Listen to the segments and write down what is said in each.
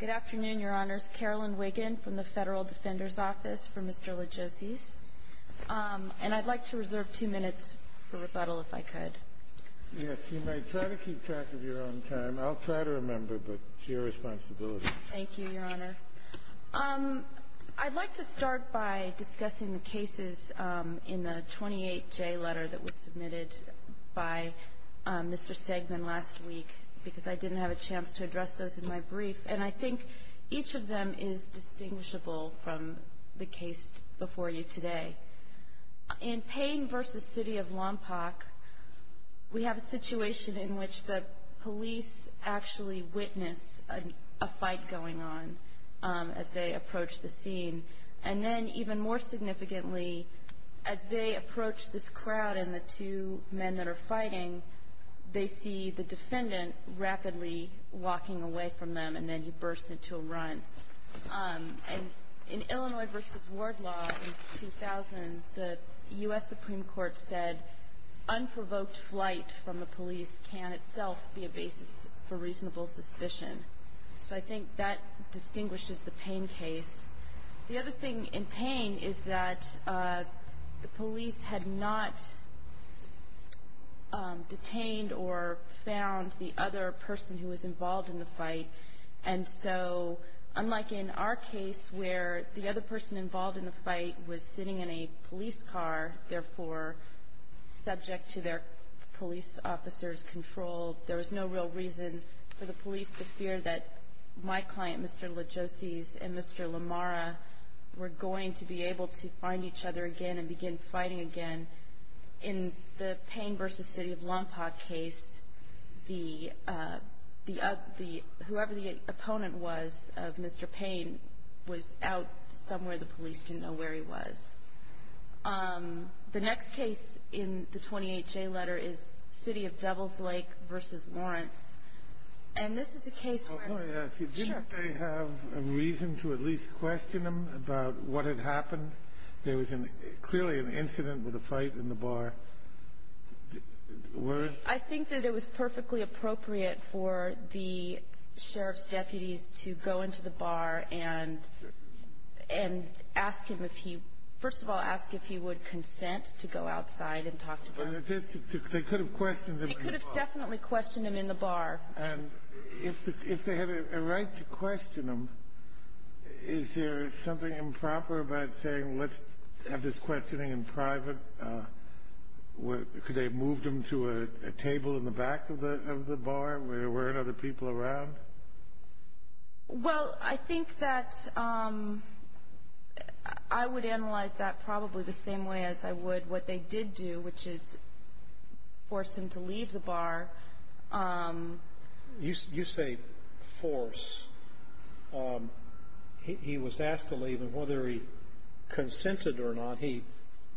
Good afternoon, Your Honors. Carolyn Wiggin from the Federal Defender's Office for Mr. Lajocies. And I'd like to reserve two minutes for rebuttal, if I could. Yes, you may try to keep track of your own time. I'll try to remember, but it's your responsibility. Thank you, Your Honor. I'd like to start by discussing the cases in the 28-J letter that was submitted by Mr. Stegman last week, because I didn't have a chance to address those in my brief. And I think each of them is distinguishable from the case before you today. In Payne v. City of Lompoc, we have a situation in which the police actually witness a fight going on as they approach the scene. And then, even more significantly, as they approach this crowd and the two men that are fighting, they see the defendant rapidly walking away from them, and then he bursts into a run. And in Illinois v. Wardlaw in 2000, the U.S. Supreme Court said, unprovoked flight from the police can itself be a basis for reasonable suspicion. So I think that distinguishes the Payne case. The other thing in Payne is that the police had not detained or found the other person who was involved in the fight. And so, unlike in our case where the other person involved in the fight was sitting in a police car, there was no real reason for the police to fear that my client, Mr. Lajoses, and Mr. Lamara, were going to be able to find each other again and begin fighting again. In the Payne v. City of Lompoc case, whoever the opponent was of Mr. Payne was out somewhere. The police didn't know where he was. The next case in the 20HA letter is City of Devils Lake v. Lawrence. And this is a case where— Let me ask you, didn't they have a reason to at least question him about what had happened? There was clearly an incident with a fight in the bar. I think that it was perfectly appropriate for the sheriff's deputies to go into the bar and ask him if he — first of all, ask if he would consent to go outside and talk to them. They could have questioned him in the bar. They could have definitely questioned him in the bar. And if they had a right to question him, is there something improper about saying, let's have this questioning in private? Could they have moved him to a table in the back of the bar where there weren't other people around? Well, I think that I would analyze that probably the same way as I would what they did do, which is force him to leave the bar. You say force. He was asked to leave, and whether he consented or not, he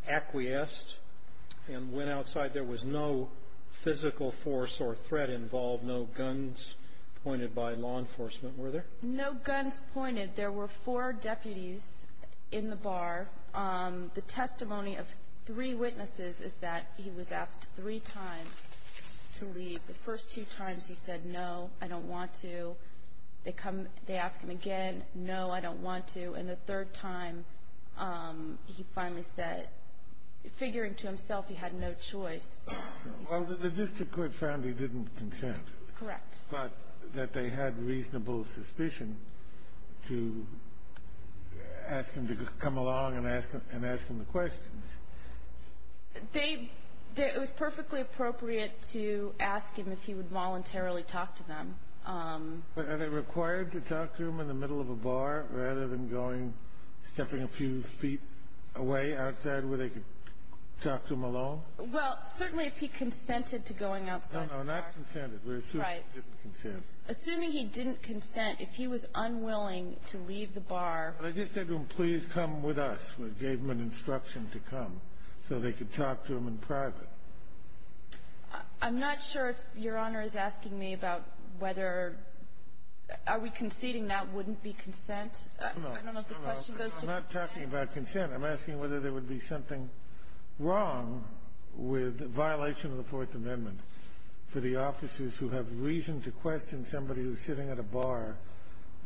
acquiesced and went outside. There was no physical force or threat involved, no guns pointed by law enforcement, were there? No guns pointed. There were four deputies in the bar. The testimony of three witnesses is that he was asked three times to leave. The first two times he said, no, I don't want to. They come, they ask him again, no, I don't want to. And the third time he finally said, figuring to himself he had no choice. Well, the district court found he didn't consent. Correct. But that they had reasonable suspicion to ask him to come along and ask him the questions. It was perfectly appropriate to ask him if he would voluntarily talk to them. But are they required to talk to him in the middle of a bar rather than going, stepping a few feet away outside where they could talk to him alone? Well, certainly if he consented to going outside the bar. No, no, not consented. We're assuming he didn't consent. Right. Assuming he didn't consent, if he was unwilling to leave the bar. I just said to him, please come with us. We gave him an instruction to come so they could talk to him in private. I'm not sure if Your Honor is asking me about whether, are we conceding that wouldn't be consent? I don't know if the question goes to consent. I'm not talking about consent. I'm asking whether there would be something wrong with violation of the Fourth Amendment for the officers who have reason to question somebody who's sitting at a bar,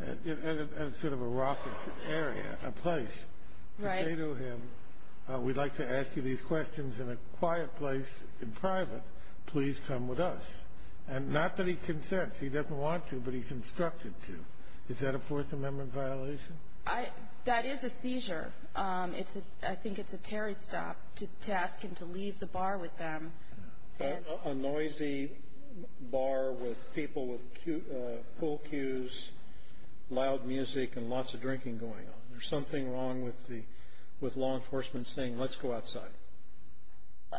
at sort of a rockish area, a place, to say to him, we'd like to ask you these questions in a quiet place in private. Please come with us. And not that he consents. He doesn't want to, but he's instructed to. Is that a Fourth Amendment violation? That is a seizure. I think it's a Terry stop to ask him to leave the bar with them. A noisy bar with people with pool cues, loud music, and lots of drinking going on. There's something wrong with the law enforcement saying, let's go outside.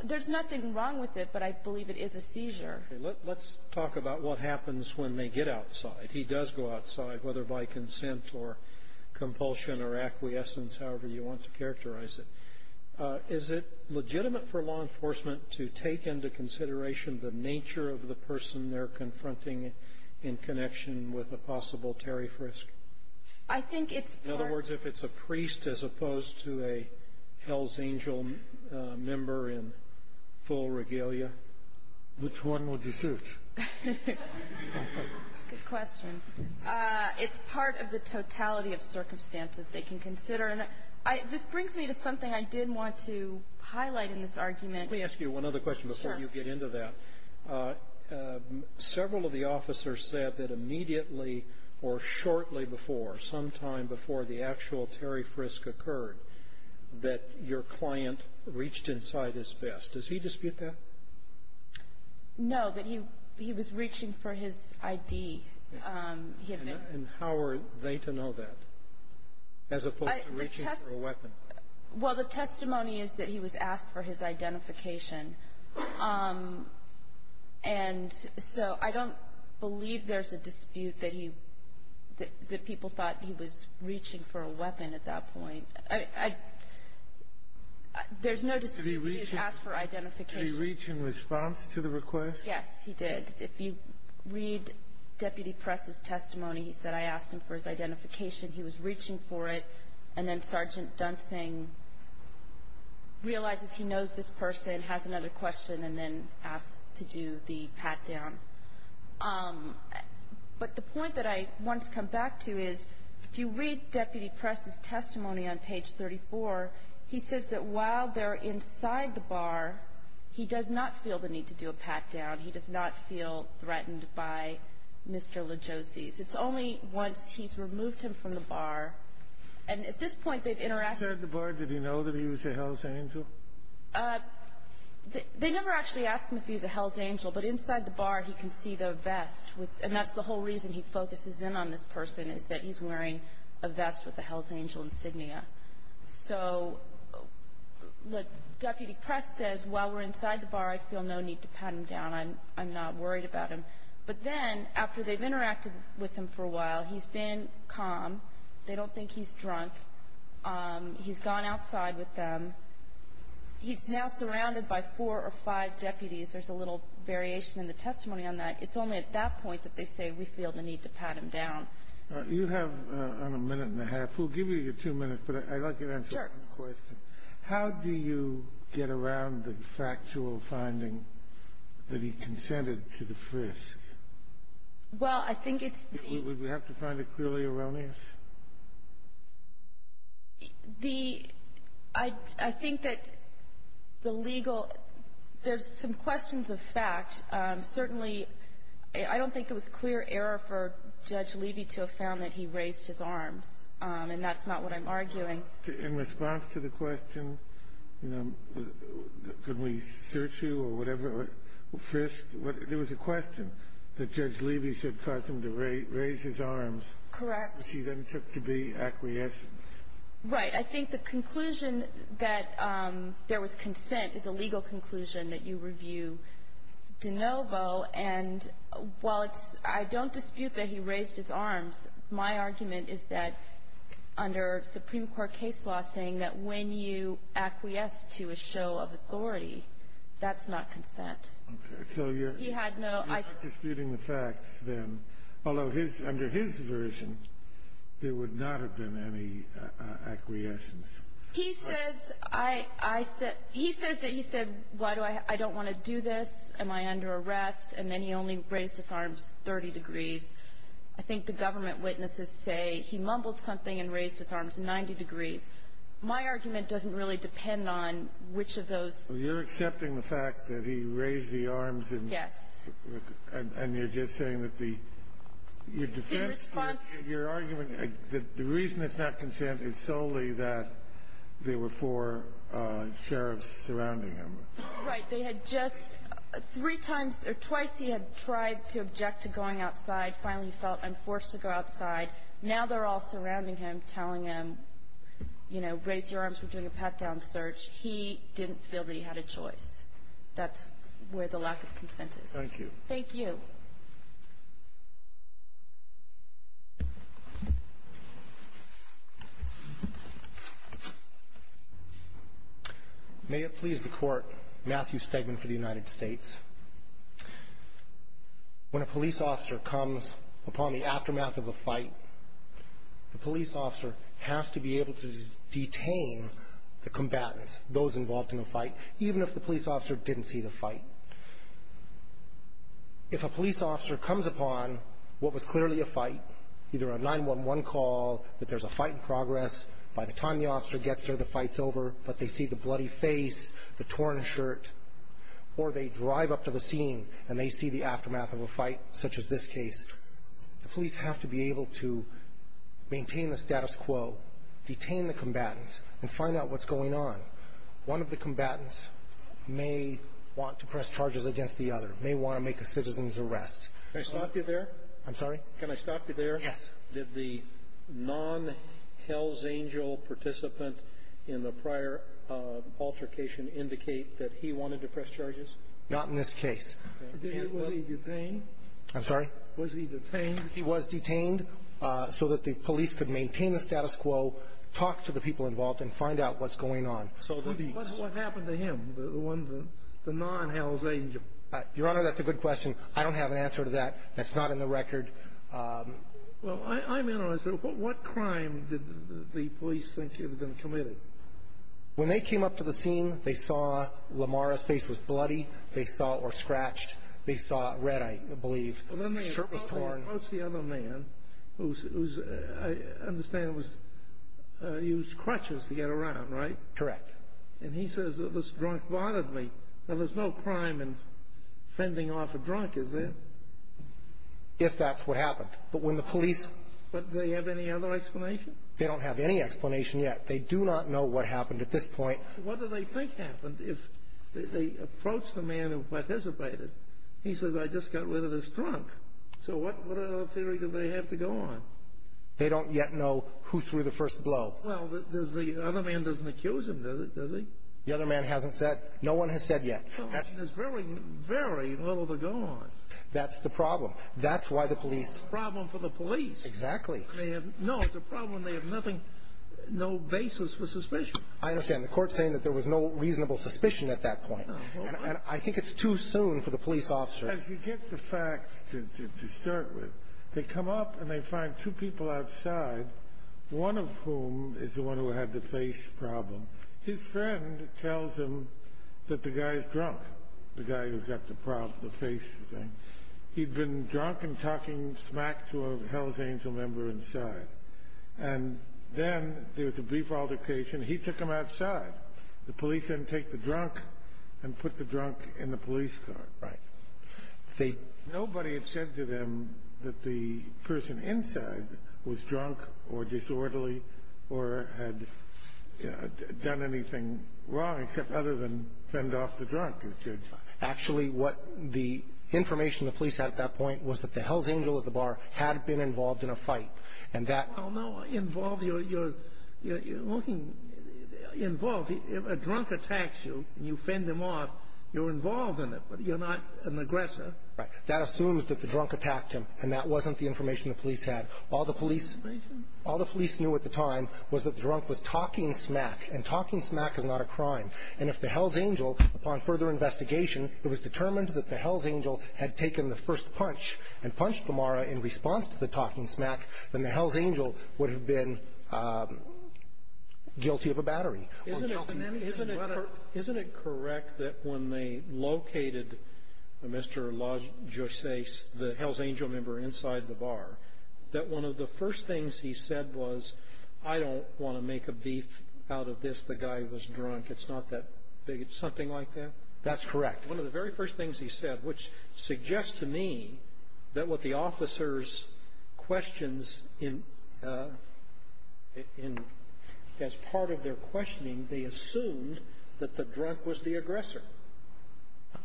There's nothing wrong with it, but I believe it is a seizure. Let's talk about what happens when they get outside. He does go outside, whether by consent or compulsion or acquiescence, however you want to characterize it. Is it legitimate for law enforcement to take into consideration the nature of the person they're confronting in connection with a possible Terry frisk? In other words, if it's a priest as opposed to a Hell's Angel member in full regalia? Which one would you choose? Good question. It's part of the totality of circumstances they can consider. And this brings me to something I did want to highlight in this argument. Let me ask you one other question before you get into that. Several of the officers said that immediately or shortly before, sometime before the actual Terry frisk occurred, that your client reached inside his vest. Does he dispute that? No, but he was reaching for his ID. And how are they to know that as opposed to reaching for a weapon? Well, the testimony is that he was asked for his identification. And so I don't believe there's a dispute that he – that people thought he was reaching for a weapon at that point. There's no dispute he was asked for identification. Did he reach in response to the request? Yes, he did. If you read Deputy Press's testimony, he said, I asked him for his identification. He was reaching for it. And then Sergeant Dunsing realizes he knows this person, has another question, and then asks to do the pat-down. But the point that I want to come back to is, if you read Deputy Press's testimony on page 34, he says that while they're inside the bar, he does not feel the need to do a pat-down. He does not feel threatened by Mr. Legosi's. It's only once he's removed him from the bar. And at this point, they've interacted. Inside the bar, did he know that he was a Hells Angel? They never actually asked him if he was a Hells Angel. But inside the bar, he can see the vest. And that's the whole reason he focuses in on this person, is that he's wearing a vest with a Hells Angel insignia. So, look, Deputy Press says, while we're inside the bar, I feel no need to pat him down. I'm not worried about him. But then, after they've interacted with him for a while, he's been calm. They don't think he's drunk. He's gone outside with them. He's now surrounded by four or five deputies. There's a little variation in the testimony on that. It's only at that point that they say, we feel the need to pat him down. You have a minute and a half. We'll give you your two minutes, but I'd like you to answer one question. Sure. How do you get around the factual finding that he consented to the frisk? Well, I think it's the ---- Would we have to find it clearly erroneous? The ---- I think that the legal ---- there's some questions of fact. Certainly, I don't think it was clear error for Judge Levy to have found that he raised his arms. And that's not what I'm arguing. In response to the question, you know, could we search you or whatever, frisk, there was a question that Judge Levy said caused him to raise his arms. Correct. Which he then took to be acquiescence. Right. I think the conclusion that there was consent is a legal conclusion that you review DeNovo. And while it's ---- I don't dispute that he raised his arms. My argument is that under Supreme Court case law saying that when you acquiesce to a show of authority, that's not consent. Okay. So you're ---- He had no ---- You're not disputing the facts then, although his ---- under his version, there would not have been any acquiescence. He says I ---- he says that he said, why do I ---- I don't want to do this. Am I under arrest? And then he only raised his arms 30 degrees. I think the government witnesses say he mumbled something and raised his arms 90 degrees. My argument doesn't really depend on which of those ---- So you're accepting the fact that he raised the arms and ---- Yes. And you're just saying that the ---- The response ---- Your argument that the reason it's not consent is solely that there were four sheriffs surrounding him. Right. They had just three times or twice he had tried to object to going outside, finally felt I'm forced to go outside. Now they're all surrounding him, telling him, you know, raise your arms, we're doing a pat-down search. He didn't feel that he had a choice. That's where the lack of consent is. Thank you. Thank you. May it please the Court, Matthew Stegman for the United States. When a police officer comes upon the aftermath of a fight, the police officer has to be able to detain the combatants, those involved in the fight, even if the police officer didn't see the fight. If a police officer comes upon what was clearly a fight, either a 911 call that there's a fight in progress, by the time the officer gets there, the fight's over, but they see the bloody face, the torn shirt, or they drive up to the scene, and they see the aftermath of a fight such as this case, the police have to be able to maintain the status quo, detain the combatants, and find out what's going on. One of the combatants may want to press charges against the other, may want to make a citizen's arrest. Can I stop you there? I'm sorry? Can I stop you there? Yes. Did the non-Hells Angel participant in the prior altercation indicate that he wanted to press charges? Not in this case. Was he detained? I'm sorry? Was he detained? He was detained so that the police could maintain the status quo, talk to the people involved, and find out what's going on. What happened to him, the one, the non-Hells Angel? Your Honor, that's a good question. I don't have an answer to that. That's not in the record. Well, I'm interested. What crime did the police think he had been committed? When they came up to the scene, they saw Lamar's face was bloody. They saw, or scratched. They saw red, I believe. The shirt was torn. What's the other man, who's, I understand, was, used crutches to get around, right? Correct. And he says that this drunk bothered me. Now, there's no crime in fending off a drunk, is there? If that's what happened. But when the police But do they have any other explanation? They don't have any explanation yet. They do not know what happened at this point. What do they think happened if they approached the man who participated? He says, I just got rid of this drunk. So what other theory do they have to go on? They don't yet know who threw the first blow. Well, the other man doesn't accuse him, does he? The other man hasn't said. No one has said yet. There's very, very little to go on. That's the problem. That's why the police. Problem for the police. Exactly. No, the problem, they have nothing, no basis for suspicion. I understand. The court's saying that there was no reasonable suspicion at that point. I think it's too soon for the police officer. As you get the facts to start with, they come up and they find two people outside, one of whom is the one who had the face problem. His friend tells him that the guy is drunk, the guy who's got the problem, the face thing. He'd been drunk and talking smack to a Hell's Angel member inside. And then there was a brief altercation. He took him outside. The police then take the drunk and put the drunk in the police car. Right. Nobody had said to them that the person inside was drunk or disorderly or had done anything wrong except other than fend off the drunk, as judge said. Actually, what the information the police had at that point was that the Hell's Angel at the bar had been involved in a fight, and that... Well, no, involved, you're looking... Involved, if a drunk attacks you and you fend him off, you're involved in it, but you're not an aggressor. Right. That assumes that the drunk attacked him, and that wasn't the information the police had. All the police knew at the time was that the drunk was talking smack, and talking smack is not a crime. And if the Hell's Angel, upon further investigation, it was determined that the Hell's Angel had taken the first punch and punched the Mara in response to the talking smack, then the Hell's Angel would have been guilty of a battery. Isn't it correct that when they located Mr. LaJosace, the Hell's Angel member inside the bar, that one of the first things he said was, I don't want to make a beef out of this, the guy was drunk, it's not that big of something like that? That's correct. One of the very first things he said, which suggests to me that what the officers' questions in as part of their questioning, they assumed that the drunk was the aggressor.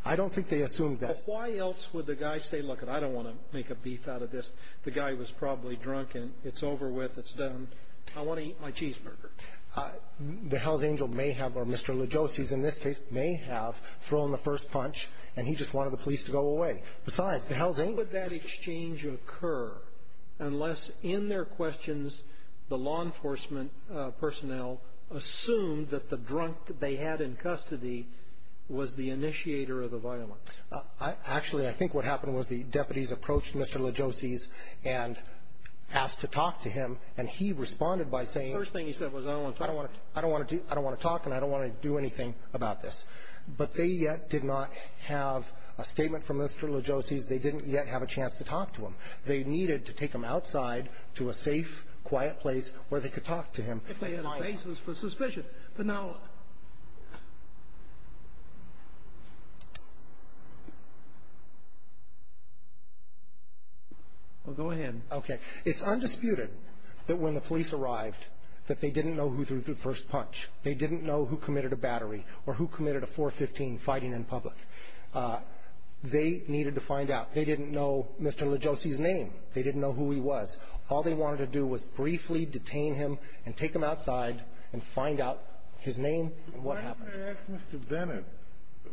I don't think they assumed that. Why else would the guy say, look, I don't want to make a beef out of this, the guy was probably drunk, and it's over with, it's done, I want to eat my cheeseburger. The Hell's Angel may have, or Mr. LaJosace in this case, may have thrown the first punch, and he just wanted the police to go away. Besides, the Hell's Angel is the guy who was drunk. How would that exchange occur unless in their questions the law enforcement personnel assumed that the drunk that they had in custody was the initiator of the violence? Actually, I think what happened was the deputies approached Mr. LaJosace and asked to talk to him, and he responded by saying, I don't want to talk, and I don't want to do anything about this. But they yet did not have a statement from Mr. LaJosace. They didn't yet have a chance to talk to him. They needed to take him outside to a safe, quiet place where they could talk to him. If they had a basis for suspicion. But now. Well, go ahead. Okay. It's undisputed that when the police arrived that they didn't know who threw the first punch. They didn't know who committed a battery or who committed a 415 fighting in public. They needed to find out. They didn't know Mr. LaJosace's name. They didn't know who he was. All they wanted to do was briefly detain him and take him outside and find out his name and what happened. Why didn't they ask Mr. Bennett,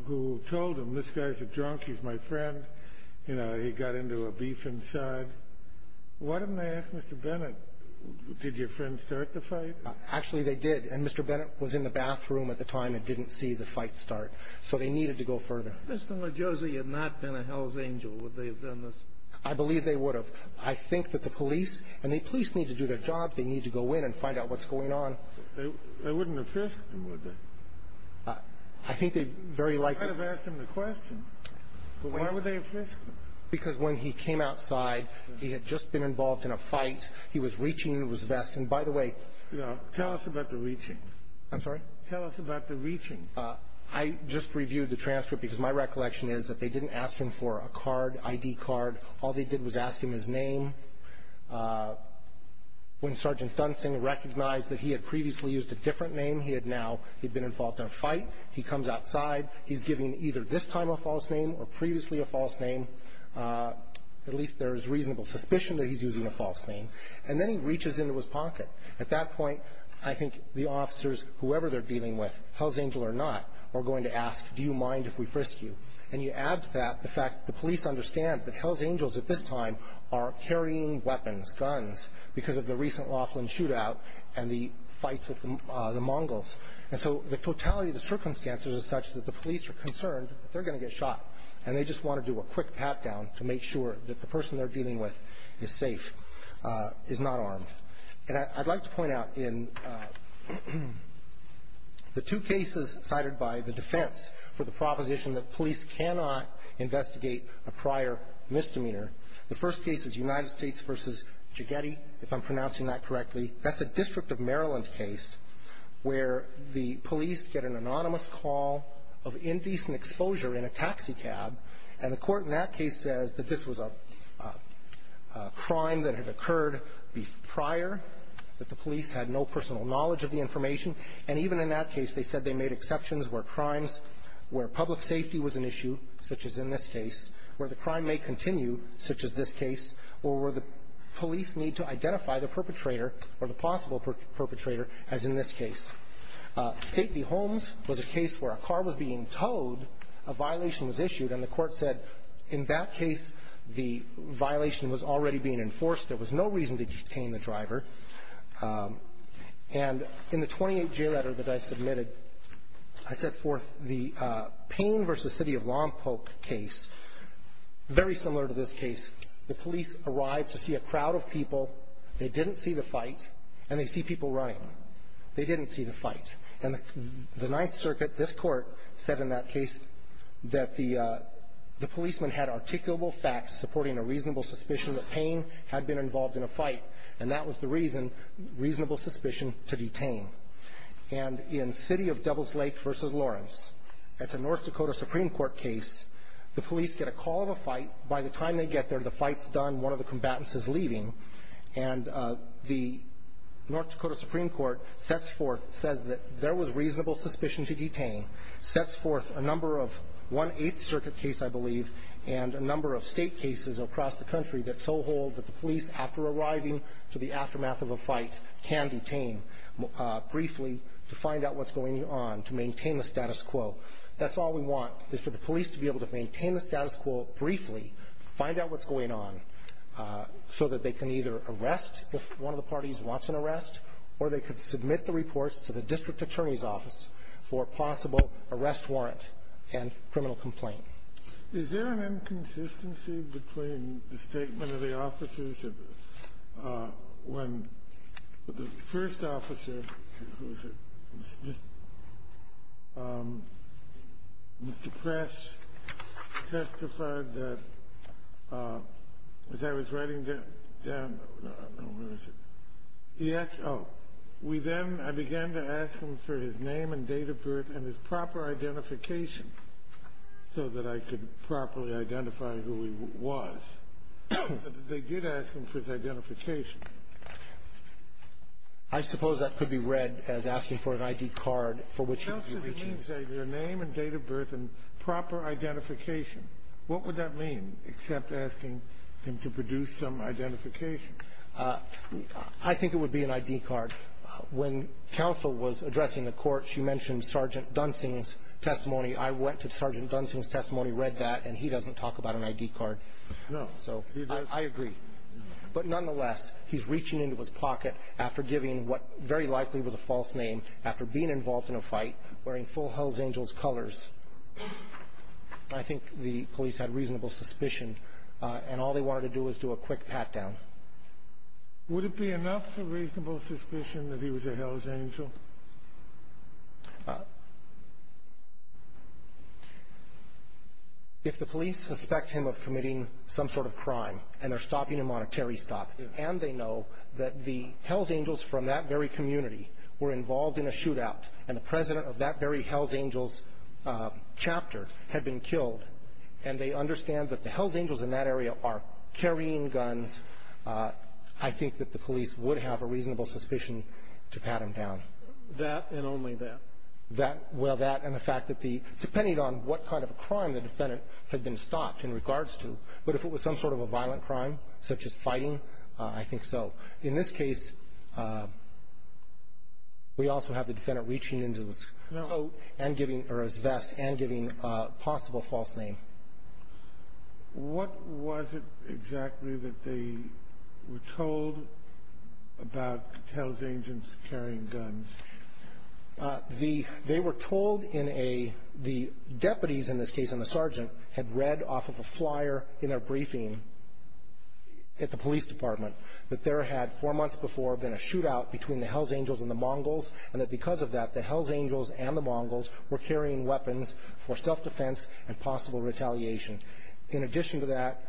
who told them this guy's a drunk, he's my friend, you know, he got into a beef inside? Why didn't they ask Mr. Bennett, did your friend start the fight? Actually, they did. And Mr. Bennett was in the bathroom at the time and didn't see the fight start. So they needed to go further. Mr. LaJosace had not been a hell's angel. Would they have done this? I believe they would have. I think that the police and the police need to do their job. They need to go in and find out what's going on. They wouldn't have fisked him, would they? I think they'd very likely have asked him the question, but why would they have fisked him? Because when he came outside, he had just been involved in a fight. He was reaching his vest. And by the way, tell us about the reaching. I'm sorry? Tell us about the reaching. I just reviewed the transcript because my recollection is that they didn't ask him for a card, ID card. All they did was ask him his name. When Sergeant Dunsing recognized that he had previously used a different name, he had now, he'd been involved in a fight. He comes outside. He's giving either this time a false name or previously a false name. At least there is reasonable suspicion that he's using a false name. And then he reaches into his pocket. At that point, I think the officers, whoever they're dealing with, Hells Angel or not, are going to ask, do you mind if we frisk you? And you add to that the fact that the police understand that Hells Angels at this time are carrying weapons, guns, because of the recent Laughlin shootout and the fights with the Mongols. And so the totality of the circumstances is such that the police are concerned that they're going to get shot. And they just want to do a quick pat down to make sure that the person they're dealing with is safe. Is not armed. And I'd like to point out in the two cases cited by the defense for the proposition that police cannot investigate a prior misdemeanor. The first case is United States versus Jigeti, if I'm pronouncing that correctly. That's a District of Maryland case where the police get an anonymous call of indecent exposure in a taxi cab. And the court in that case says that this was a crime that had occurred prior, that the police had no personal knowledge of the information. And even in that case, they said they made exceptions where crimes, where public safety was an issue, such as in this case, where the crime may continue, such as this case, or where the police need to identify the perpetrator or the possible perpetrator, as in this case. State v. Holmes was a case where a car was being towed, a violation was issued, and the court said, in that case, the violation was already being enforced. There was no reason to detain the driver. And in the 28-J letter that I submitted, I set forth the Payne versus City of Lompoc case. Very similar to this case, the police arrived to see a crowd of people. They didn't see the fight, and they see people running. They didn't see the fight. And the Ninth Circuit, this court, said in that case that the policeman had articulable facts supporting a reasonable suspicion that Payne had been involved in a fight. And that was the reason, reasonable suspicion to detain. And in City of Devil's Lake versus Lawrence, that's a North Dakota Supreme Court case. The police get a call of a fight. By the time they get there, the fight's done, one of the combatants is leaving. And the North Dakota Supreme Court says that there was reasonable suspicion to detain. Sets forth a number of, one Eighth Circuit case, I believe, and a number of state cases across the country that so hold that the police, after arriving to the aftermath of a fight, can detain briefly to find out what's going on, to maintain the status quo. That's all we want, is for the police to be able to maintain the status quo briefly, find out what's going on, so that they can either arrest if one of the parties wants an arrest, or they could submit the reports to the district attorney's office for a possible arrest warrant and criminal complaint. Is there an inconsistency between the statement of the officers when the first officer, Mr. Press, testified that, as I was writing down, I don't know where it is, he asked, we then, I began to ask him for his name and date of birth and his proper identification, so that I could properly identify who he was. They did ask him for his identification. I suppose that could be read as asking for an ID card for which you're reaching his name and date of birth and proper identification. What would that mean, except asking him to produce some identification? I think it would be an ID card. When counsel was addressing the Court, she mentioned Sergeant Dunsing's testimony. I went to Sergeant Dunsing's testimony, read that, and he doesn't talk about an ID card. No. So I agree. But nonetheless, he's reaching into his pocket after giving what very likely was a false name, after being involved in a fight, wearing full Hells Angels colors. I think the police had reasonable suspicion, and all they wanted to do was do a quick pat down. Would it be enough for reasonable suspicion that he was a Hells Angel? If the police suspect him of committing some sort of crime, and they're stopping a monetary stop, and they know that the Hells Angels from that very community were involved in a shootout, and the president of that very Hells Angels chapter had been killed, and they understand that the Hells Angels in that area are carrying guns, I think that the police would have a reasonable suspicion to pat him down. That and only that. That, well, that and the fact that the, depending on what kind of crime the defendant had been stopped in regards to, but if it was some sort of a violent crime, such as fighting, I think so. In this case, we also have the defendant reaching into his coat and giving, or his vest, and giving a possible false name. What was it exactly that they were told about Hells Angels carrying guns? The, they were told in a, the deputies in this case, and the sergeant, had read off of a flyer in their briefing at the police department that there had four months before been a shootout between the Hells Angels and the Mongols, and that because of that, the Hells Angels and the Mongols were carrying weapons for self-defense and possible retaliation. In addition to that,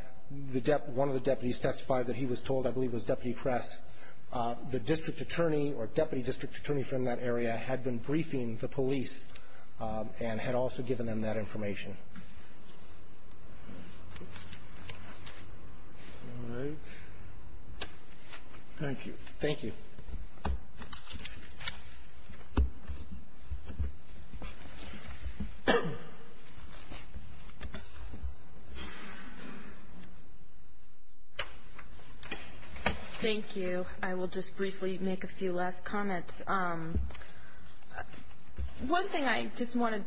the, one of the deputies testified that he was told, I believe it was Deputy Press, the district attorney or deputy district attorney from that area had been briefing the police and had also given them that information. All right. Thank you. Thank you. Thank you. Thank you. I will just briefly make a few last comments. One thing I just want to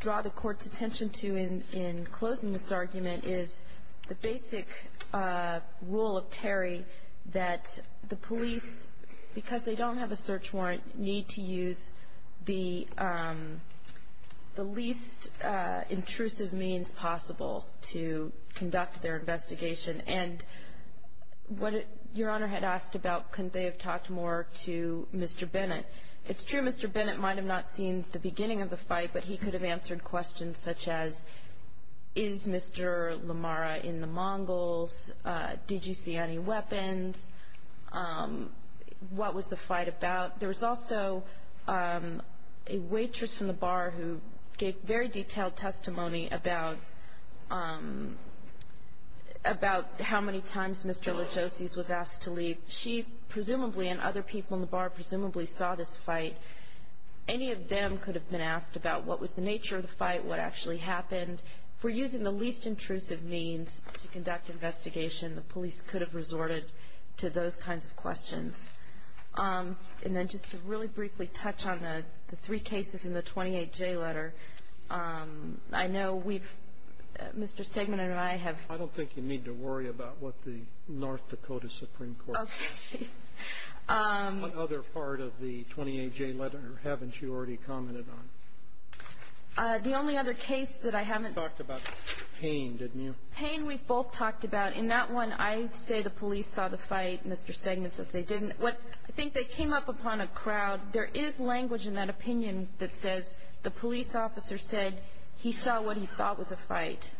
draw the Court's attention to in closing this argument is the basic rule of Terry that the police, because they don't have a search warrant, need to use the least intrusive means possible to conduct their investigation. And what Your Honor had asked about, couldn't they have talked more to Mr. Bennett? It's true Mr. Bennett might have not seen the beginning of the fight, but he could have answered questions such as, is Mr. Lamara in the Mongols? Did you see any weapons? What was the fight about? There was also a waitress from the bar who gave very detailed testimony about how many times Mr. Legosi was asked to leave. She presumably and other people in the bar presumably saw this fight. Any of them could have been asked about what was the nature of the fight, what actually happened. If we're using the least intrusive means to conduct investigation, And then just to really briefly touch on the three cases in the 28J letter, I know we've Mr. Stegman and I have I don't think you need to worry about what the North Dakota Supreme Court has said. Okay. What other part of the 28J letter haven't you already commented on? The only other case that I haven't You talked about Payne, didn't you? Payne we've both talked about. In that one, I say the police saw the fight. Mr. Stegman says they didn't. I think they came up upon a crowd. There is language in that opinion that says the police officer said he saw what he thought was a fight.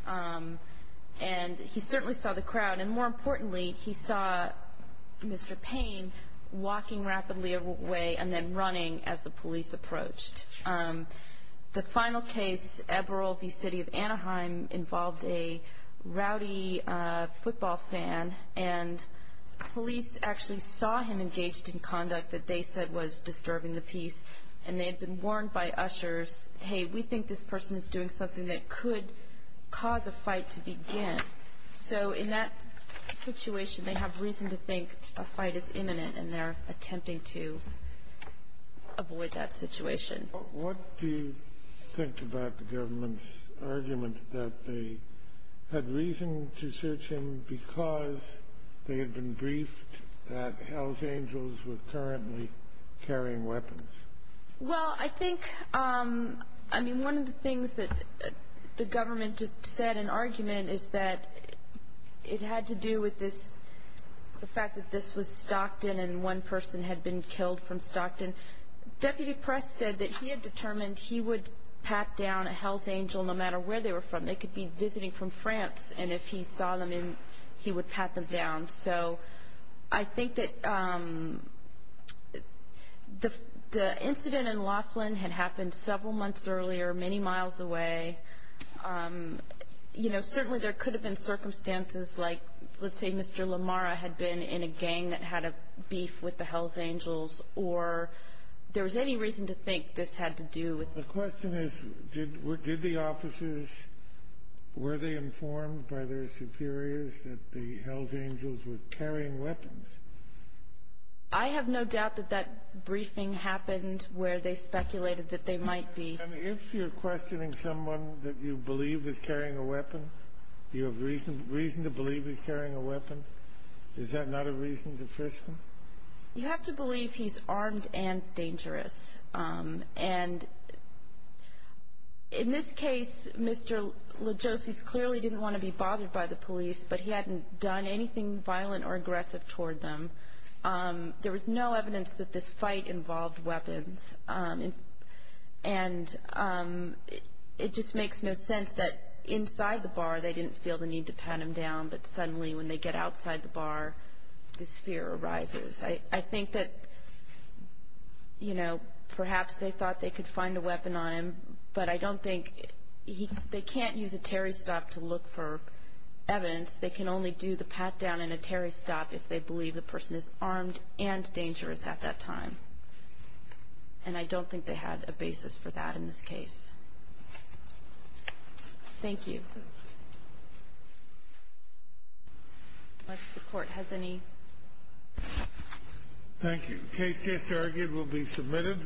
And he certainly saw the crowd. And more importantly, he saw Mr. Payne walking rapidly away and then running as the police approached. The final case, Eberl v. City of Anaheim, involved a rowdy football fan. And police actually saw him engaged in conduct that they said was disturbing the peace. And they had been warned by ushers, Hey, we think this person is doing something that could cause a fight to begin. So in that situation, they have reason to think a fight is imminent. And they're attempting to avoid that situation. What do you think about the government's argument that they had reason to search him because they had been briefed that Hells Angels were currently carrying weapons? Well, I think, I mean, one of the things that the government just said in argument is that it had to do with the fact that this was Stockton and one person had been killed from Stockton. Deputy Press said that he had determined he would pat down a Hells Angel no matter where they were from. They could be visiting from France, and if he saw them, he would pat them down. So I think that the incident in Laughlin had happened several months earlier, many miles away. You know, certainly there could have been circumstances like, let's say, Mr. Lamara had been in a gang that had a beef with the Hells Angels, or there was any reason to think this had to do with... The question is, did the officers, were they informed by their superiors that the Hells Angels were carrying weapons? I have no doubt that that briefing happened where they speculated that they might be. And if you're questioning someone that you believe is carrying a weapon, do you have reason to believe he's carrying a weapon? Is that not a reason to frisk him? You have to believe he's armed and dangerous. And in this case, Mr. Legosi clearly didn't want to be bothered by the police, but he hadn't done anything violent or aggressive toward them. There was no evidence that this fight involved weapons. And it just makes no sense that inside the bar they didn't feel the need to pat him down, but suddenly when they get outside the bar, this fear arises. I think that, you know, perhaps they thought they could find a weapon on him, but I don't think they can't use a Terry stop to look for evidence. They can only do the pat down and a Terry stop if they believe the person is armed and dangerous at that time. And I don't think they had a basis for that in this case. Thank you. Unless the Court has any... Thank you. The case just argued will be submitted.